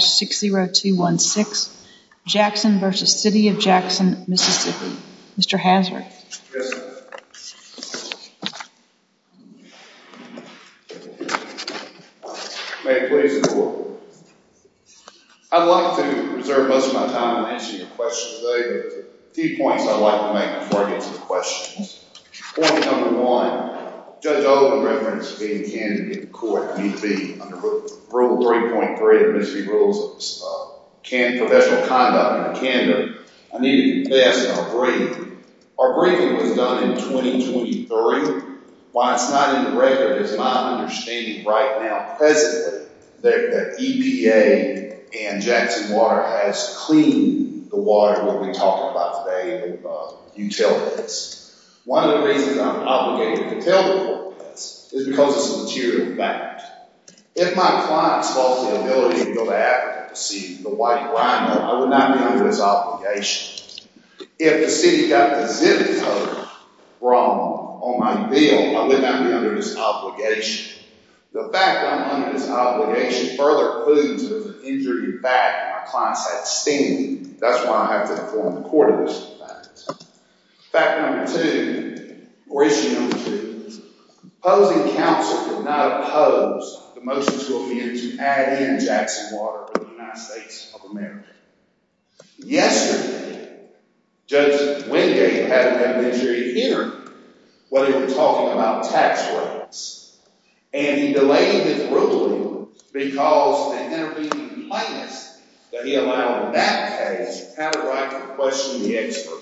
60216, Jackson v. City of Jackson, Mississippi. Mr. Hazard. May it please the court. I'd like to reserve most of my time in answering your questions today, but a few points I'd like to make before I get to the questions. Point number one, Judge Oldham referenced being a candidate in court. I need to be under Rule 3.3 of the Mississippi Rules of Professional Conduct in Canada. I need to confess to our briefing. Our briefing was done in 2023. Why it's not in the record is my understanding right now presently that EPA and Jackson Water has cleaned the water that we're talking about today of utilities. One of the reasons I'm obligated to tell the court this is because it's a material fact. If my clients lost the ability to go to Africa to see the white rhino, I would not be under this obligation. If the city got the zip code wrong on my bill, I would not be under this obligation. The fact that I'm under this obligation further alludes to an injury in the back of my client's head stinging. That's why I have to inform the court of this fact. Fact number two, or issue number two, opposing counsel did not oppose the motion to amend to add in Jackson Water to the United States of America. Yesterday, Judge Wingate had an adventure in hearing what he was talking about tax rates, and he delayed his ruling because the intervening plaintiffs that he allowed in that case had a right to question the expert.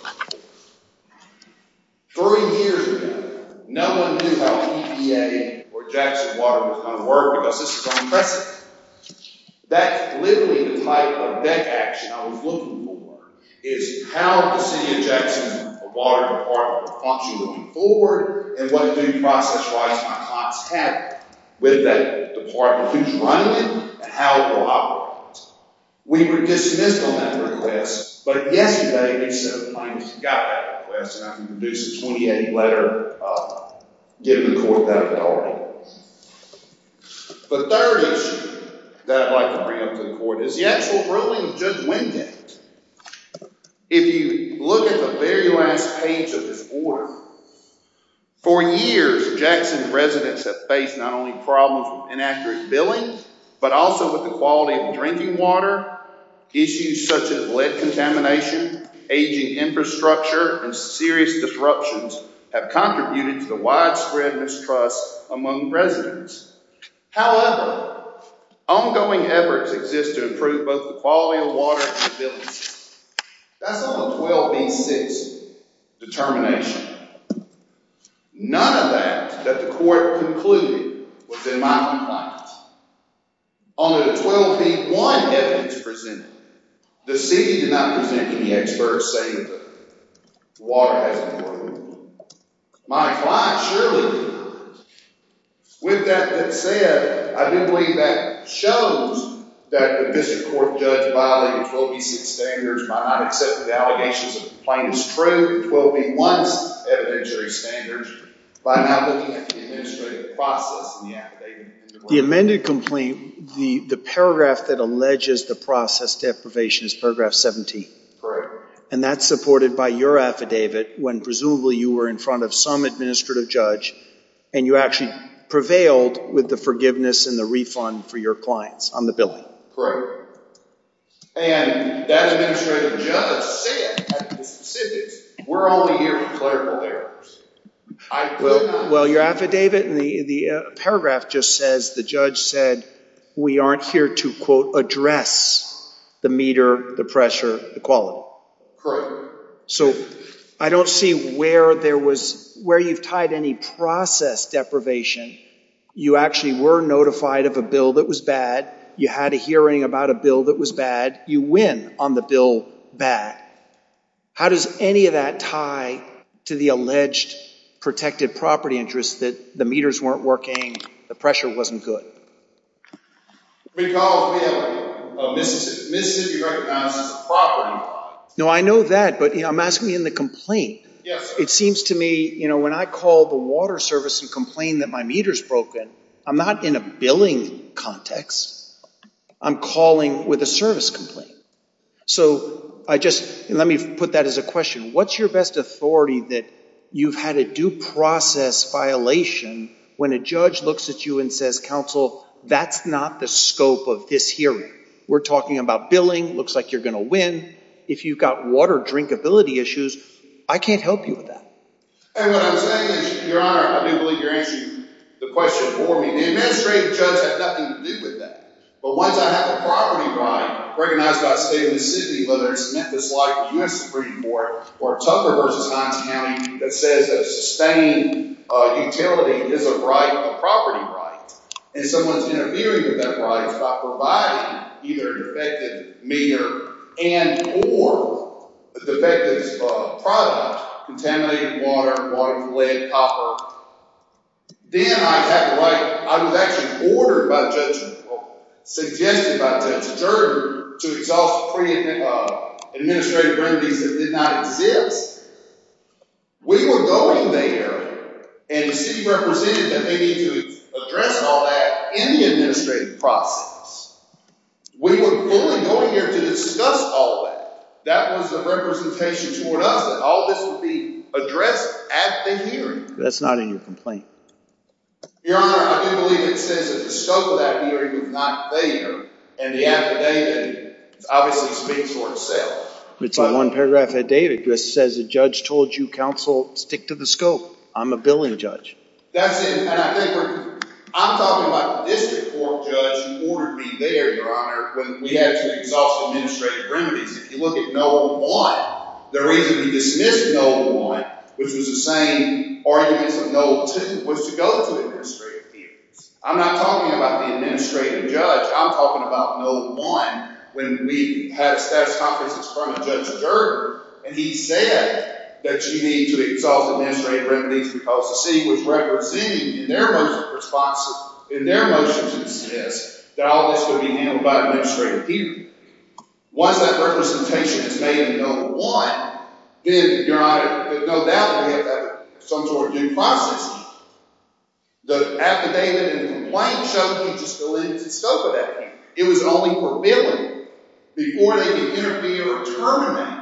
Thirty years ago, no one knew how EPA or Jackson Water was going to work because this is unprecedented. That's literally the type of back action I was looking for, is how the city of Jackson Water Department will function moving forward and what due process rights my clients have with that department, who's running it, and how it will operate. We were dismissed on that request, but yesterday each of the plaintiffs got that request, and I can produce a 28-letter giving the court that authority. The third issue that I'd like to bring up to the court is the actual ruling of Judge Wingate. If you look at the very last page of this order, for years Jackson residents have faced not only problems with inaccurate billing, but also with the quality of drinking water, issues such as lead contamination, aging infrastructure, and serious disruptions have contributed to the widespread mistrust among residents. However, ongoing efforts exist to improve both the quality of water and the billing system. That's on the 12b-6 determination. None of that that the court concluded was in my compliance. Only the 12b-1 evidence presented. The city did not present any experts saying that the water hasn't worked. My client surely did With that said, I do believe that shows that the district court judge violated 12b-6 standards by not accepting the allegations of the plaintiff's true 12b-1s evidentiary standards by not looking at the administrative process in the affidavit. The amended complaint, the paragraph that alleges the process deprivation is paragraph 17. Correct. And that's supported by your administrative judge, and you actually prevailed with the forgiveness and the refund for your clients on the billing. Correct. And that administrative judge said at the specifics, we're only here for clerical errors. Well your affidavit and the paragraph just says the judge said we aren't here to quote address the meter, the pressure, the quality. Correct. So I don't see where there was, where you've tied any process deprivation. You actually were notified of a bill that was bad. You had a hearing about a bill that was bad. You win on the bill back. How does any of that tie to the alleged protected property interest that the meters weren't working, the pressure wasn't good? When you call a bill, Mississippi recognizes the property. No, I know that, but I'm asking you in the complaint. It seems to me when I call the water service and complain that my meter's broken, I'm not in a billing context. I'm calling with a service complaint. So I just, let me put that as a question. What's your best authority that you've had a due process violation when a judge looks at you and says counsel, that's not the scope of this hearing. We're talking about billing, looks like you're going to win. If you've got water drinkability issues, I can't help you with that. And what I'm saying is, your honor, I do believe you're answering the question for me. The administrative judge had nothing to do with that. But once I have a property right, recognized by the state of the city, whether it's Memphis life or U.S. Supreme Court or Tucker versus non-county that says that sustained utility is a right, a property right, and someone's interfering with that right by providing either a defective meter and or a defective product, contaminated water, water, lead, copper. Then I have a right, I was actually ordered by a judge, suggested by a judge, adjourned to exhaust the pre-administrative remedies that did not exist. We were going there and the city represented that they need to address all that in the administrative process. We were fully going there to discuss all that. That was the representation toward us that all this would be addressed at the hearing. That's not in your complaint. Your honor, I do believe it says that the scope of that hearing was not there. And the affidavit obviously speaks for itself. It's in one paragraph of the affidavit. It just says the judge told you, counsel, stick to the scope. I'm a billing judge. That's it. And I think we're, I'm talking about the district court judge who ordered me there, your honor, when we had to exhaust the administrative remedies. If you look at No. 1, the reason we dismissed No. 1, which was the same argument as No. 2, was to go to administrative hearings. I'm not talking about the administrative judge. I'm talking about No. 1 when we had a status conference in front of Judge Gerger and he said that you need to exhaust administrative remedies because the city was representing in their motion to dismiss that all this would be handled by administrative hearings. Once that representation is made in No. 1, then your honor, no doubt we have some sort of due process. The affidavit and the complaint show you just eliminated the scope of that hearing. It was only for billing before they could interfere or terminate.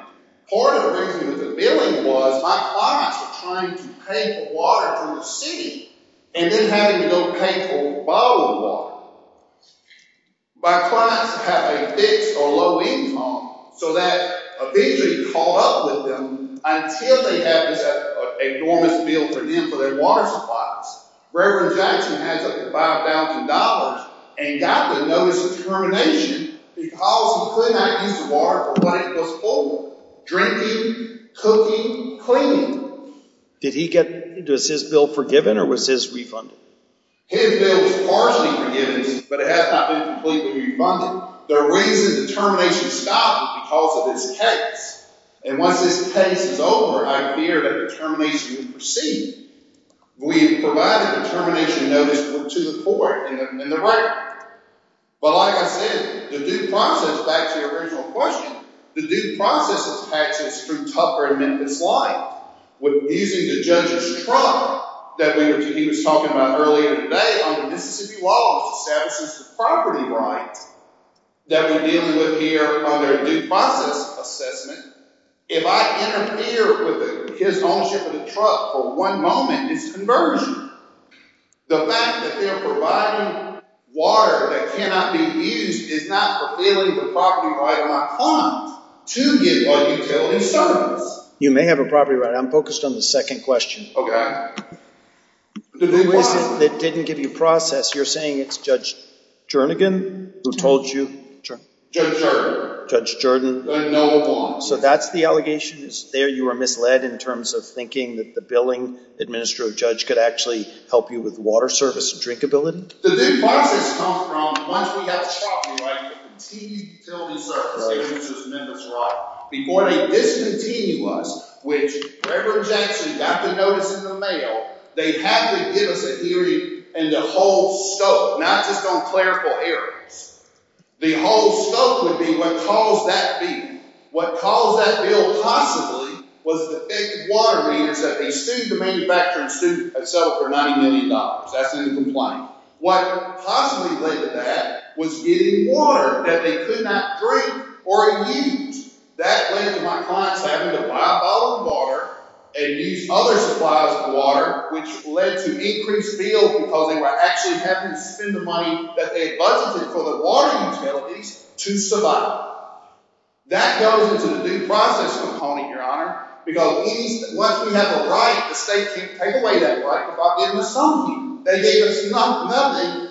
Part of the reason with the billing was my clients were trying to pay for water from the city and then having to go pay for bottled water. My clients have a fixed or low income so that eventually caught up with them until they have this enormous bill for them for their water supplies. Reverend Jackson has up to $5,000 and got the notice of termination because he could not use the water for what it was for, drinking, cooking, cleaning. Did he get, was his bill forgiven or was his refunded? His bill was partially forgiven but it has not been completely refunded. The reason the termination stopped was because of his case. And once his case is over, I fear that the termination would proceed. We have provided the termination notice to the court and the record. But like I said, the due process, back to your original question, the due process attaches through Tupper and Memphis Life. Using the judge's truck that he was talking about earlier today on the Mississippi Wall, which establishes the property right that we're dealing with here under due process assessment, if I interfere with his ownership of the truck for one moment, it's conversion. The fact that they're providing water that cannot be used is not fulfilling the property right of my client to give a utility service. You may have a property right. I'm focused on the second question. Okay. The reason it didn't give you process, you're saying it's Judge Jernigan who told you? Judge Jernigan. Judge Jernigan. No one. So that's the allegation is there you were misled in terms of thinking that the billing administrator or judge could actually help you with water service and drinkability? The due process comes from once we have a property right to continue utility service given to us by Memphis Life, before they discontinue us, which Reverend Jackson got to notice in the mail, they had to give us a hearing and the whole scope, not just on clerical errors. The whole scope would be what caused that bill. What caused that bill possibly was the that a student, a manufacturing student had settled for $90 million. That's in the complaint. What possibly led to that was getting water that they could not drink or use. That led to my clients having to buy a bottle of water and use other supplies of water, which led to increased bills because they were actually having to spend the money that they had budgeted for the water utilities to survive. That goes into the due process component, Your Honor, because once we have a right, the state can't take away that right without giving it to some people. They gave us nothing.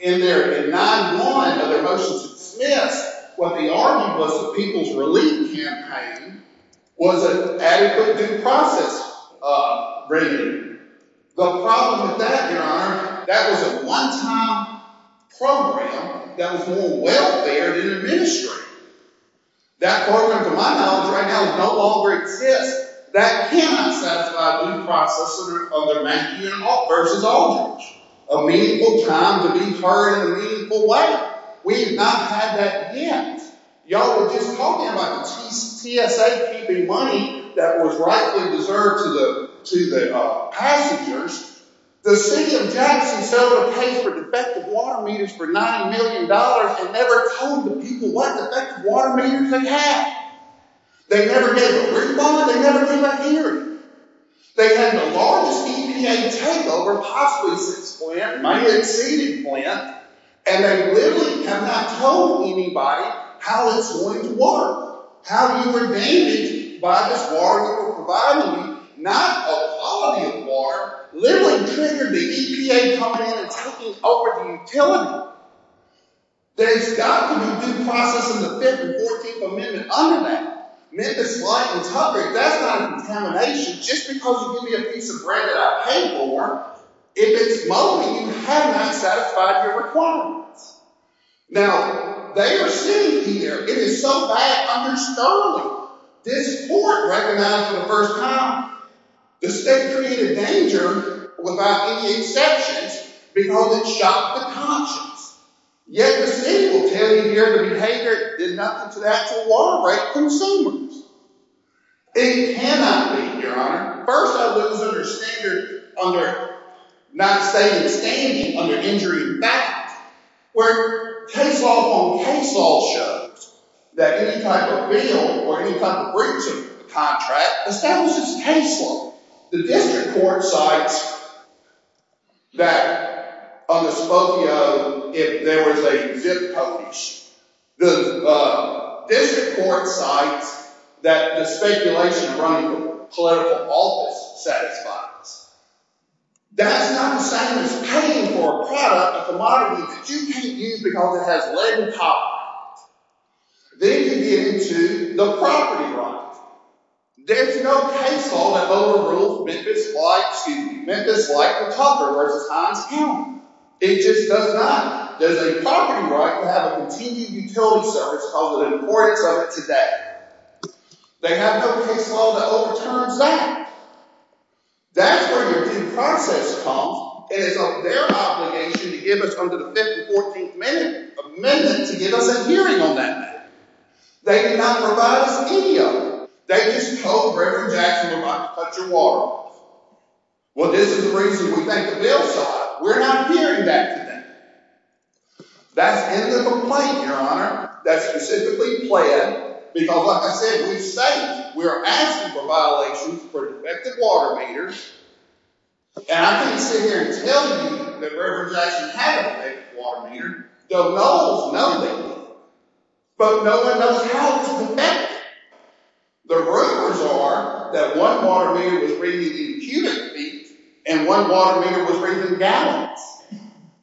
In their 9-1 of their motions dismissed, what they argued was the People's Relief Campaign was an adequate due process agreement. The problem with that, Your Honor, that was a one-time program that was more welfare than administrative. That program, to my knowledge right now, no longer exists. That cannot satisfy a due process agreement versus Aldridge. A meaningful time to be heard in a meaningful way. We have not had that yet. Y'all were just talking about the TSA keeping money that was rightly deserved to the passengers. The City of Jackson said it would pay for defective water meters for $90 million and never told the people what defective water meters they had. They never gave a refund. They never gave a hearing. They had the largest EPA takeover possibly since Flint, and they literally have not told anybody how it's going to work, how you were damaged by this water that we're providing you, not a quality of water, literally triggered the EPA coming in and taking over the utility. There's got to be a due process in the 5th and 14th Amendment under that. Memphis Light was hungry. That's not contamination. Just because you give me a piece of bread that I pay for, if it's moldy, you have not satisfied your requirements. Now, they are sitting here. It is so bad under Sterling. This court recognized for the first time the state community in danger without any exceptions because it shocked the conscience, yet the City will tell you here the behavior did nothing to the actual water rate consumers. It cannot be, Your Honor. First, I lose under not stating standing under injury in fact, where case law on case law shows that any type of bill or any type of breach of the contract establishes case law. The district court cites that on the Spokio, if there was a zip code issue, the district court cites that the speculation running political office satisfies. That's not the same as paying for a product, a commodity that you can't use because it has lead in copper. Then you get into the property right. There's no case law that overrules Memphis Light 2. Memphis Light for copper versus Heinz Ewing. It just does not. There's a property right to have a continued utility service of the importance of it today. They have no case law that overturns that. That's where your due process comes. It is their obligation to give us under the 5th and 14th Amendment to give us a hearing on that matter. They did not provide us any of it. They just told Reverend Jackson to cut your water off. Well, this is the reason we thank the bill so much. We're not hearing that today. That's end of the complaint, Your Honor. That's specifically pled because like I said, we say we're asking for violations for defective water meters. And I can't sit here and tell you that Reverend Jackson had a defective water meter. The mulls know it. But no one knows how to connect it. The rumors are that one water meter was reading the cubic feet and one water meter was reading gallons.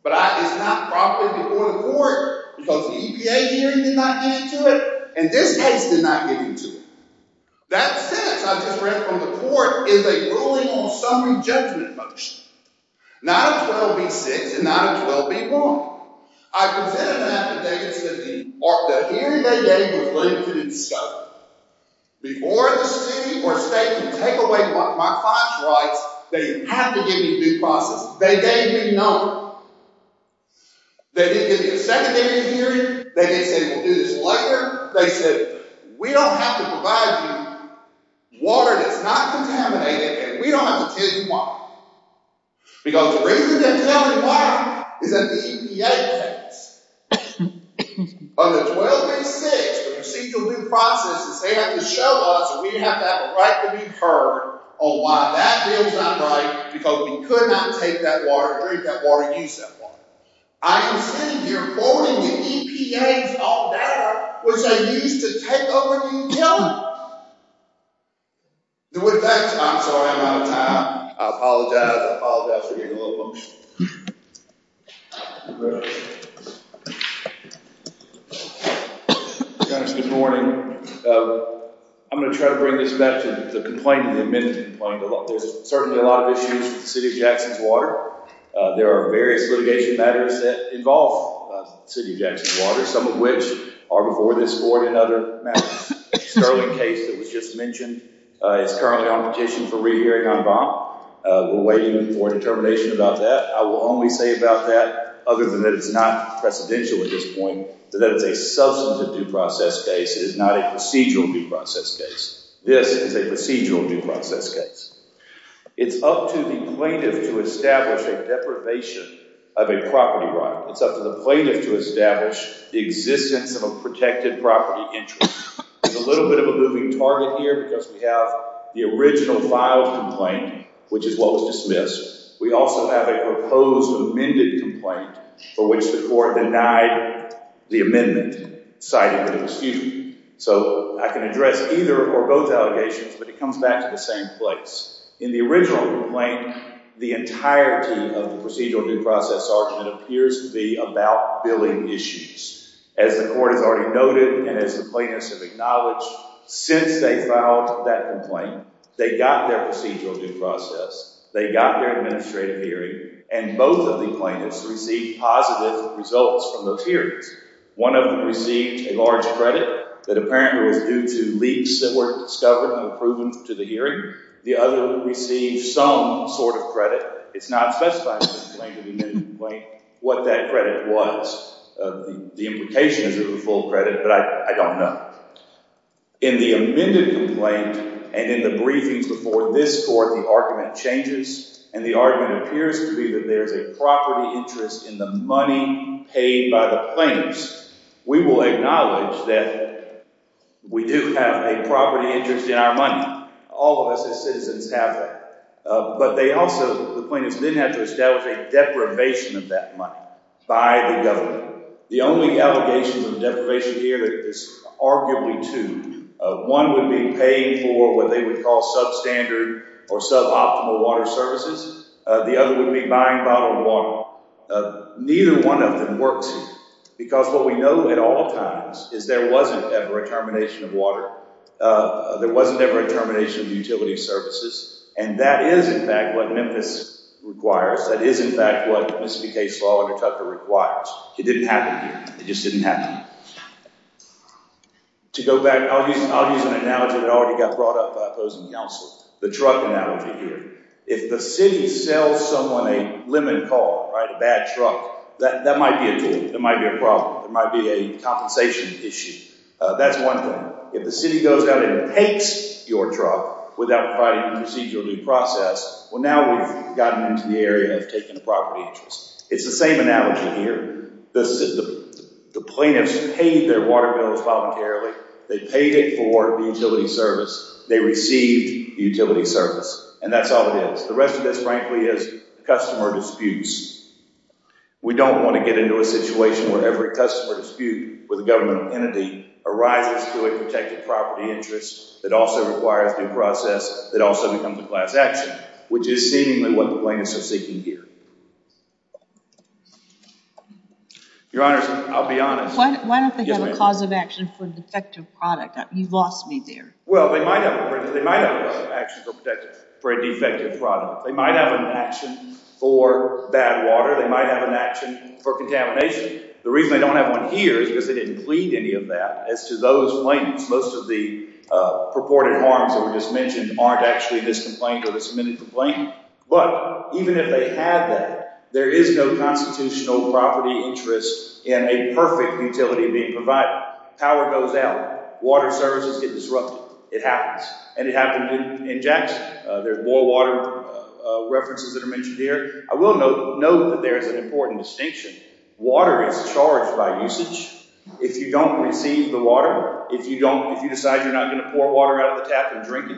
But it's not properly reported for it because the EPA hearing did not get into it and this case did not get into it. That sentence I just read from the court is a ruling on summary judgment motion. Not a 12B-6 and not a 12B-1. I presented an affidavit that said the hearing they gave was late to the discovery. Before the city or state could take away my class rights, they had to give me due process. They gave me none. They didn't give me a secondary hearing. They didn't say we'll do this later. They said we don't have to provide you water that's not contaminated and we don't have to tell you why. Because the reason they're telling you why is that the EPA pays. On the 12A-6, the procedural due process is they have to show us that we have to have a right to be heard on why that bill is not right because we could not take that water, drink that water, use that water. I am standing here voting the EPA is all that was they used to take over and kill me. With that, I'm sorry I'm out of time. I apologize. I apologize for getting a little emotional. Good morning. I'm going to try to bring this back to the complaint and the amendment complaint. There's certainly a lot of issues with the city of Jackson's water. There are various litigation matters that involve the city of Jackson's water, some of which are before this board and other matters. The Sterling case that was just mentioned is currently on petition for rehearing on bond. We're waiting for determination about that. I will only say about that, other than that it's not precedential at this point, that it's a substantive due process case. It is not a procedural due process case. This is a procedural due process case. It's up to the plaintiff to establish a deprivation of a property right. It's up to the plaintiff to establish the existence of a protected property interest. It's a little bit of a moving target here because we have the original filed complaint, which is what was dismissed. We also have a proposed amended complaint for which the court denied the amendment, citing an excuse. I can address either or both allegations, but it comes back to the same place. In the original complaint, the entirety of the procedural due process argument appears to be about billing issues. As the court has already noted and as the plaintiffs have acknowledged, since they filed that complaint, they got their procedural due process, they got their administrative hearing, and both of the plaintiffs received positive results from those hearings. One of them received a large credit that apparently was due to leaks that were discovered and were proven to the hearing. The other received some sort of credit. It's not specified in the amended complaint what that credit was. The implication is that it was full credit, but I don't know. In the amended complaint and in the briefings before this court, the argument changes, and the argument appears to be that there's a property interest in the money paid by the plaintiffs. We will acknowledge that we do have a property interest in our money. All of us as citizens have that. But they also, the plaintiffs then have to establish a deprivation of that money by the government. The only allegations of deprivation here is arguably two. One would be paying for what they would call substandard or suboptimal water services. The other would be buying bottled water. Neither one of them works here because what we know at all times is there wasn't ever a termination of water. There wasn't ever a termination of utility services, and that is, in fact, what Memphis requires. That is, in fact, what Mississippi case law under Tucker requires. It didn't happen here. It just didn't happen. To go back, I'll use an analogy that already got brought up by opposing counsel, the truck analogy here. If the city sells someone a lemon car, right, a bad truck, that might be a tool. That might be a problem. It might be a compensation issue. That's one thing. If the city goes out and takes your truck without providing a procedural due process, well, now we've gotten into the area of taking a property interest. It's the same analogy here. The plaintiffs paid their water bills voluntarily. They paid for the utility service. They received the utility service. And that's all it is. The rest of this, frankly, is customer disputes. We don't want to get into a situation where every customer dispute with a governmental entity arises to a protected property interest that also requires due process that also becomes a class action, which is seemingly what the plaintiffs are seeking here. Your Honors, I'll be honest. Why don't they have a cause of action for a defective product? You've lost me there. Well, they might have a cause of action for a defective product. They might have an action for bad water. They might have an action for contamination. The reason they don't have one here is because they didn't plead any of that as to those plaintiffs. Most of the purported harms that were just mentioned aren't actually this complaint or this submitted complaint. But even if they had that, there is no constitutional property interest in a perfect utility being provided. Power goes out. Water services get disrupted. It happens, and it happened in Jackson. There's more water references that are mentioned here. I will note that there is an important distinction. Water is charged by usage. If you don't receive the water, if you decide you're not going to pour water out of the tap and drink it,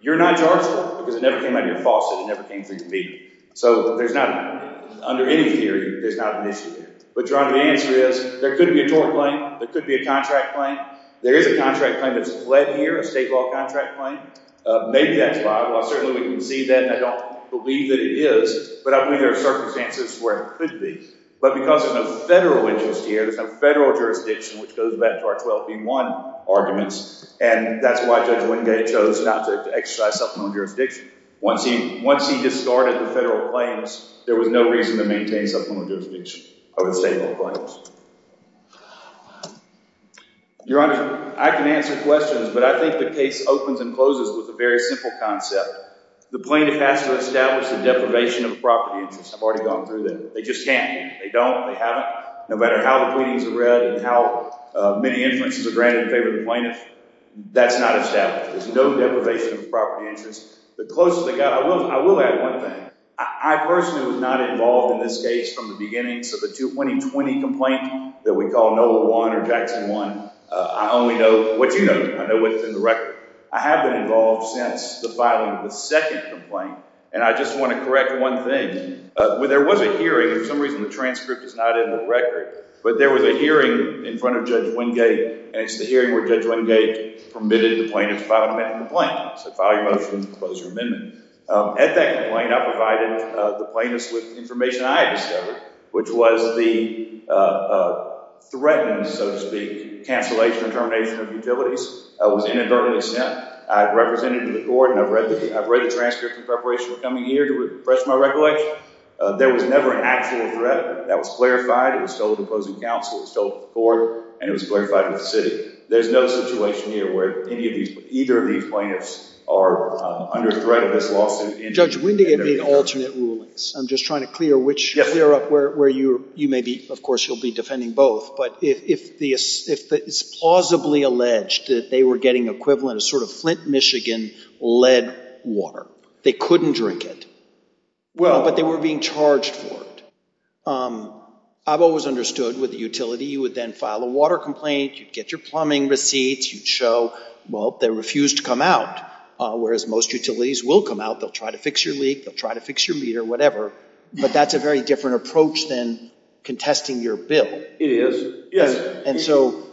you're not charged for it because it never came out of your faucet. It never came through your meter. So there's not, under any theory, there's not an issue there. But, Your Honor, the answer is there could be a tort claim. There could be a contract claim. There is a contract claim that's fled here, a state law contract claim. Maybe that's liable. Certainly we can see that, and I don't believe that it is, but I believe there are circumstances where it could be. But because there's no federal interest here, there's no federal jurisdiction, which goes back to our 12v1 arguments, and that's why Judge Wingate chose not to exercise supplemental jurisdiction. Once he discarded the federal claims, there was no reason to maintain supplemental jurisdiction over the state law claims. Your Honor, I can answer questions, but I think the case opens and closes with a very simple concept. The plaintiff has to establish a deprivation of property interest. I've already gone through that. They just can't. They don't. They haven't. No matter how the pleadings are read and how many inferences are granted in favor of the plaintiff, that's not established. There's no deprivation of property interest. The closer they got, I will add one thing. I personally was not involved in this case from the beginning, so the 2020 complaint that we call NOLA 1 or Jackson 1, I only know what you know. I know what's in the record. I have been involved since the filing of the second complaint, and I just want to correct one thing. There was a hearing. For some reason, the transcript is not in the record, but there was a hearing in front of Judge Wingate, and it's the hearing where Judge Wingate permitted the plaintiff to file an amendment to the claim. He said, file your motion, close your amendment. At that complaint, I provided the plaintiff with information I had discovered, which was the threatened, so to speak, cancellation or termination of utilities. I was inadvertently sent. I represented the court, and I've read the transcript in preparation for coming here to refresh my recollection. There was never an actual threat. That was clarified. It was told to opposing counsel. It was told to the court, and it was clarified with the city. There's no situation here where either of these plaintiffs are under threat of this lawsuit. Judge Wingate made alternate rulings. I'm just trying to clear up where you may be. Of course, you'll be defending both. But if it's plausibly alleged that they were getting equivalent of sort of Flint, Michigan lead water, they couldn't drink it, but they were being charged for it. I've always understood with a utility, you would then file a water complaint. You'd get your plumbing receipts. You'd show, well, they refused to come out, whereas most utilities will come out. They'll try to fix your leak. They'll try to fix your meter, whatever. But that's a very different approach than contesting your bill. It is. Yes. And so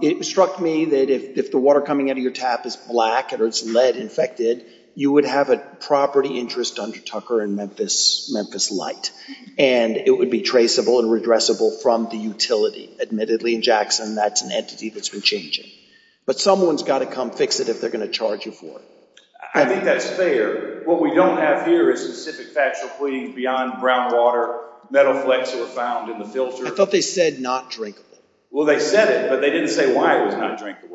it struck me that if the water coming out of your tap is black or it's lead-infected, you would have a property interest under Tucker and Memphis Light, and it would be traceable and redressable from the utility. Admittedly, in Jackson, that's an entity that's been changing. But someone's got to come fix it if they're going to charge you for it. I think that's fair. What we don't have here is specific factual pleadings beyond brown water, metal flecks that were found in the filter. I thought they said not drinkable. Well, they said it, but they didn't say why it was not drinkable.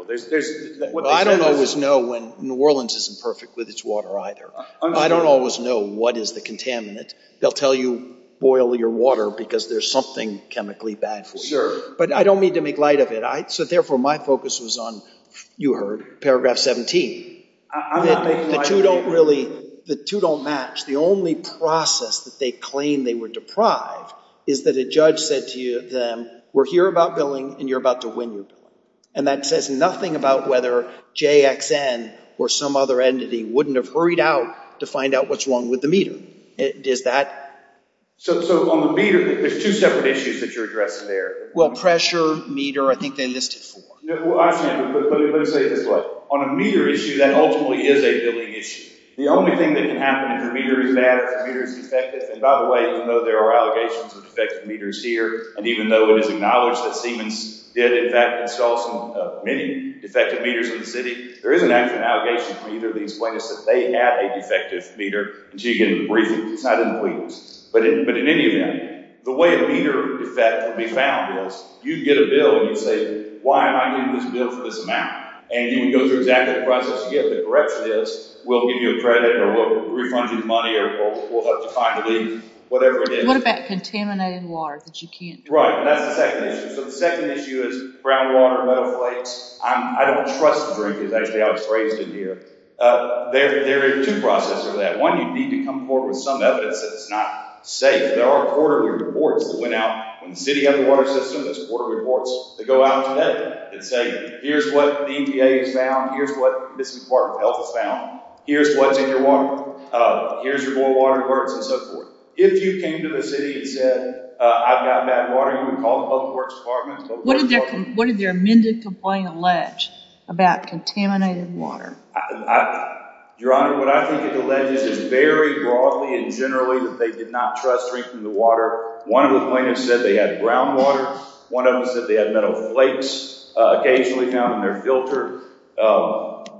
I don't always know when New Orleans isn't perfect with its water either. I don't always know what is the contaminant. They'll tell you boil your water because there's something chemically bad for you. But I don't mean to make light of it. So, therefore, my focus was on, you heard, Paragraph 17. The two don't match. The only process that they claim they were deprived is that a judge said to them, we're here about billing, and you're about to win your billing. And that says nothing about whether JXN or some other entity wouldn't have hurried out to find out what's wrong with the meter. Does that? So, on the meter, there's two separate issues that you're addressing there. Well, pressure, meter, I think they listed four. Let me say it this way. On a meter issue, that ultimately is a billing issue. The only thing that can happen if your meter is bad, if your meter is defective, and by the way, even though there are allegations of defective meters here, and even though it is acknowledged that Siemens did, in fact, install many defective meters in the city, there isn't actually an allegation from either of these witnesses that they had a defective meter until you get into the briefing. It's not in the briefings. But in any event, the way a meter defect would be found is you'd get a bill, and you'd say, why am I getting this bill for this amount? And you would go through exactly the process you get. The correction is, we'll give you a credit, or we'll refund you the money, or we'll help you find the leak, whatever it is. What about contaminating water that you can't drink? Right, and that's the second issue. So the second issue is groundwater, metal flakes. I don't trust to drink these, actually. I was raised in here. There are two processes for that. One, you need to come forward with some evidence that it's not safe. There are quarterly reports that went out. When the city has a water system, there's quarterly reports that go out today that say, here's what the EPA has found, here's what this Department of Health has found, here's what's in your water, here's your boil water, where it's at, and so forth. If you came to the city and said, I've got bad water, you would call the Public Works Department. What did their amended complaint allege about contaminated water? Your Honor, what I think it alleges is very broadly and generally that they did not trust drinking the water. One of the complainants said they had groundwater. One of them said they had metal flakes occasionally found in their filter.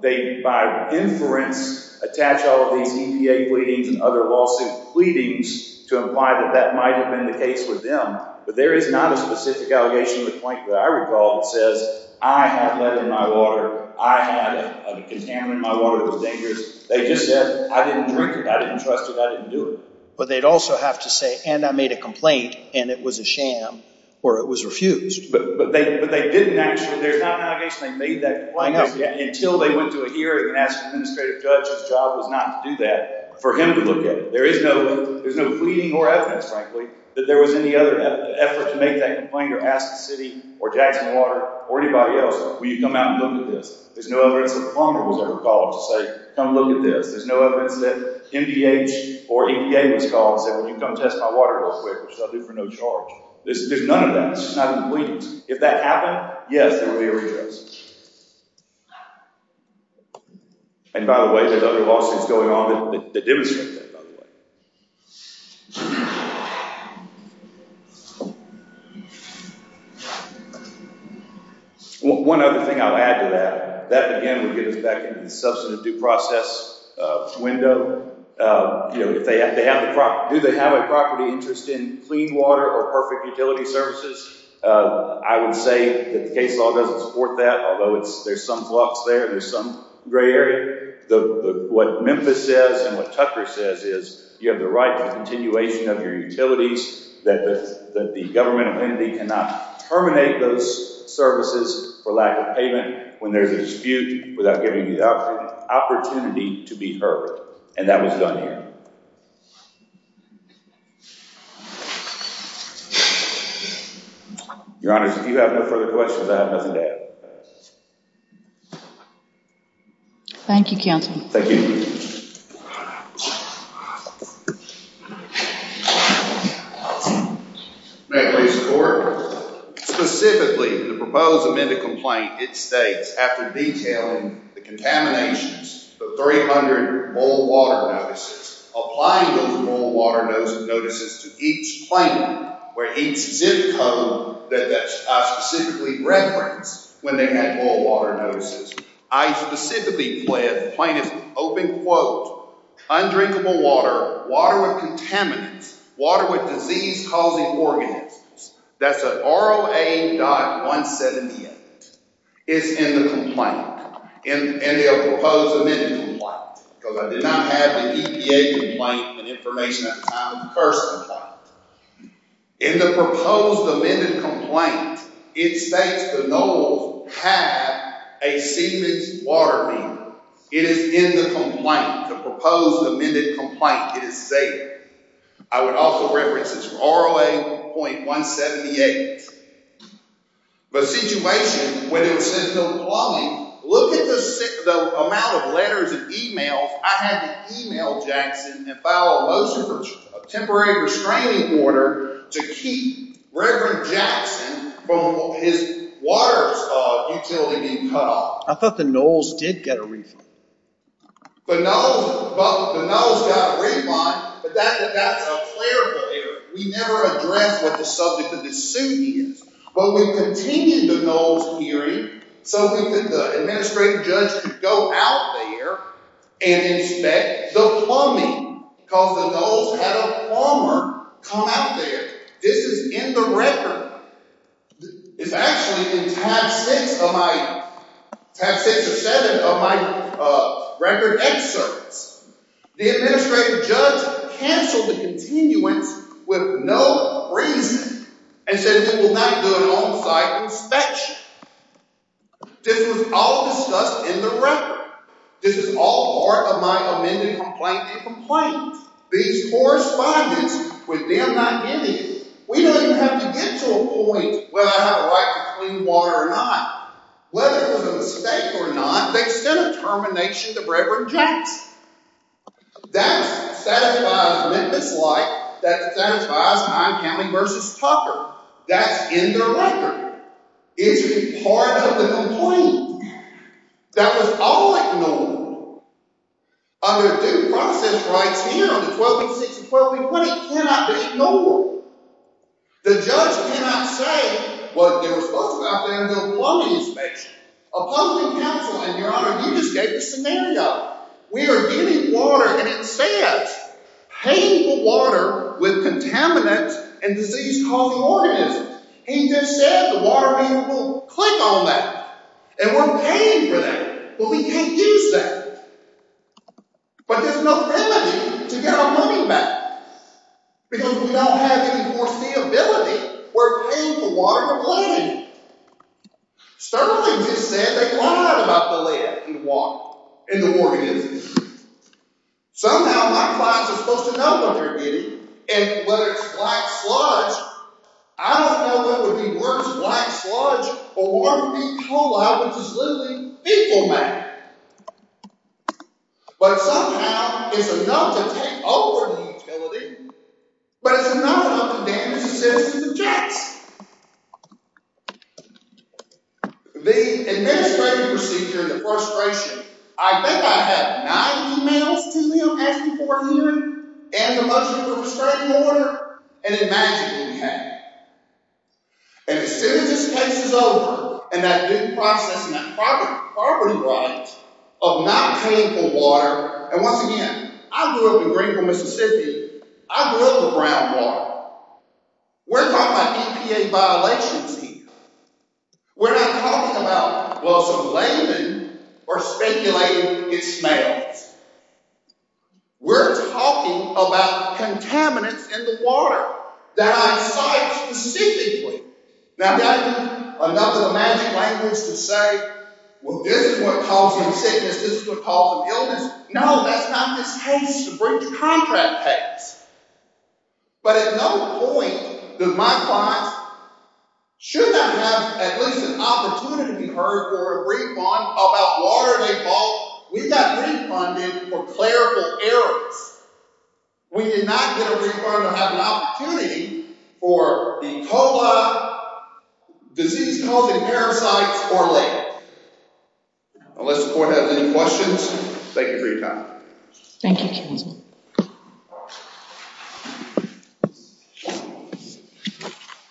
They, by inference, attach all of these EPA pleadings and other lawsuit pleadings to imply that that might have been the case with them. But there is not a specific allegation in the complaint that I recall that says, I had lead in my water, I had a contaminant in my water that was dangerous. They just said, I didn't drink it, I didn't trust it, I didn't do it. But they'd also have to say, and I made a complaint, and it was a sham, or it was refused. But they didn't actually, there's not an allegation they made that complaint, until they went to a hearing and asked an administrative judge whose job it was not to do that, for him to look at it. There is no pleading or evidence, frankly, that there was any other effort to make that complaint or ask the city or Jackson Water or anybody else, will you come out and look at this. There's no evidence that the plumber was ever called to say, come look at this. There's no evidence that MDH or EPA was called and said, well, you can come test my water real quick, which they'll do for no charge. There's none of that. It's not a complaint. If that happened, yes, there would be a retracement. And by the way, there's other lawsuits going on that demonstrate that, by the way. One other thing I'll add to that, that again would get us back into the substantive due process window. Do they have a property interest in clean water or perfect utility services? I would say that the case law doesn't support that, although there's some flux there, there's some gray area. What Memphis says and what Tucker says is you have the right to continuation of your utilities, that the governmental entity cannot terminate those services for lack of payment when there's a dispute without giving you the opportunity to be heard. And that was done here. Your Honor, if you have no further questions, I have nothing to add. Thank you, counsel. Thank you. May I please report? Specifically, the proposed amended complaint, it states, after detailing the contaminations, the 300 boil water notices, applying those boil water notices to each claimant, where each zip code that I specifically referenced when they had boil water notices, I specifically fled the plaintiff's open quote, undrinkable water, water with contaminants, water with disease-causing organisms. That's at ROA.178. It's in the complaint. And the proposed amended complaint, because I did not have the EPA complaint, and information at the time of the first complaint, in the proposed amended complaint, it states the knowledge had a seamless water meter. It is in the complaint, the proposed amended complaint. It is safe. I would also reference this for ROA.178. The situation when it was sent to the claimant, look at the amount of letters and emails I had to email Jackson and file a temporary restraining order to keep Reverend Jackson from his water utility being cut off. I thought the Knowles did get a refund. The Knowles got a refund, but that's a clerical error. We never addressed what the subject of the suit is. But we continued the Knowles hearing so that the administrative judge could go out there and inspect the plumbing, because the Knowles had a plumber come out there. This is in the record. It's actually in tab six of my record excerpts. The administrative judge canceled the continuance with no reason and said we will not do an on-site inspection. This was all discussed in the record. This is all part of my amended complaint. These correspondents, with them not in it, we don't even have to get to a point whether I had a right to clean water or not. Whether it was a mistake or not, they sent a termination to Reverend Jackson. That satisfies Memphis Light. That satisfies Pine County v. Tucker. That's in the record. It's part of the complaint. That was all ignored. Under due process rights here, under 1286 and 1280, cannot be ignored. The judge cannot say what they were supposed to go out there and do a plumbing inspection. A public counsel said, Your Honor, you just gave the scenario. We are giving water, and it says painful water with contaminants and disease-causing organisms. He just said the water meter will click on that. And we're paying for that, but we can't use that. But there's no remedy to get our money back. Because we don't have any foreseeability. We're paying for water and plumbing. Sterling just said they lied about the lead in the water and the organisms. Somehow my clients are supposed to know what they're getting. And whether it's black sludge, I don't know if that would be worse, black sludge, or water being pooled out, which is literally people matter. But somehow, it's enough to take over the utility, but it's enough to damage the citizens of Jackson. The administrative procedure and the frustration. I think I have nine emails to him asking for a hearing, and a bunch of them restraining order, and imagine what we have. And as soon as this case is over, and that due process and that property right of not paying for water. And once again, I grew up in Greenville, Mississippi. I grew up with brown water. We're talking about EPA violations here. We're not talking about, well, some laymen are speculating it smells. We're talking about contaminants in the water. That I saw it specifically. Now, I've got enough of the magic language to say, well, this is what causes sickness. This is what causes illness. No, that's not this case to bring the contract case. But at no point do my clients, should that have at least an opportunity to be heard for a refund about water they bought. We got refunded for clerical errors. We did not get a refund or have an opportunity for the COLA, disease COVID parasites, or lake. Unless the court has any questions, thank you for your time. Thank you, counsel.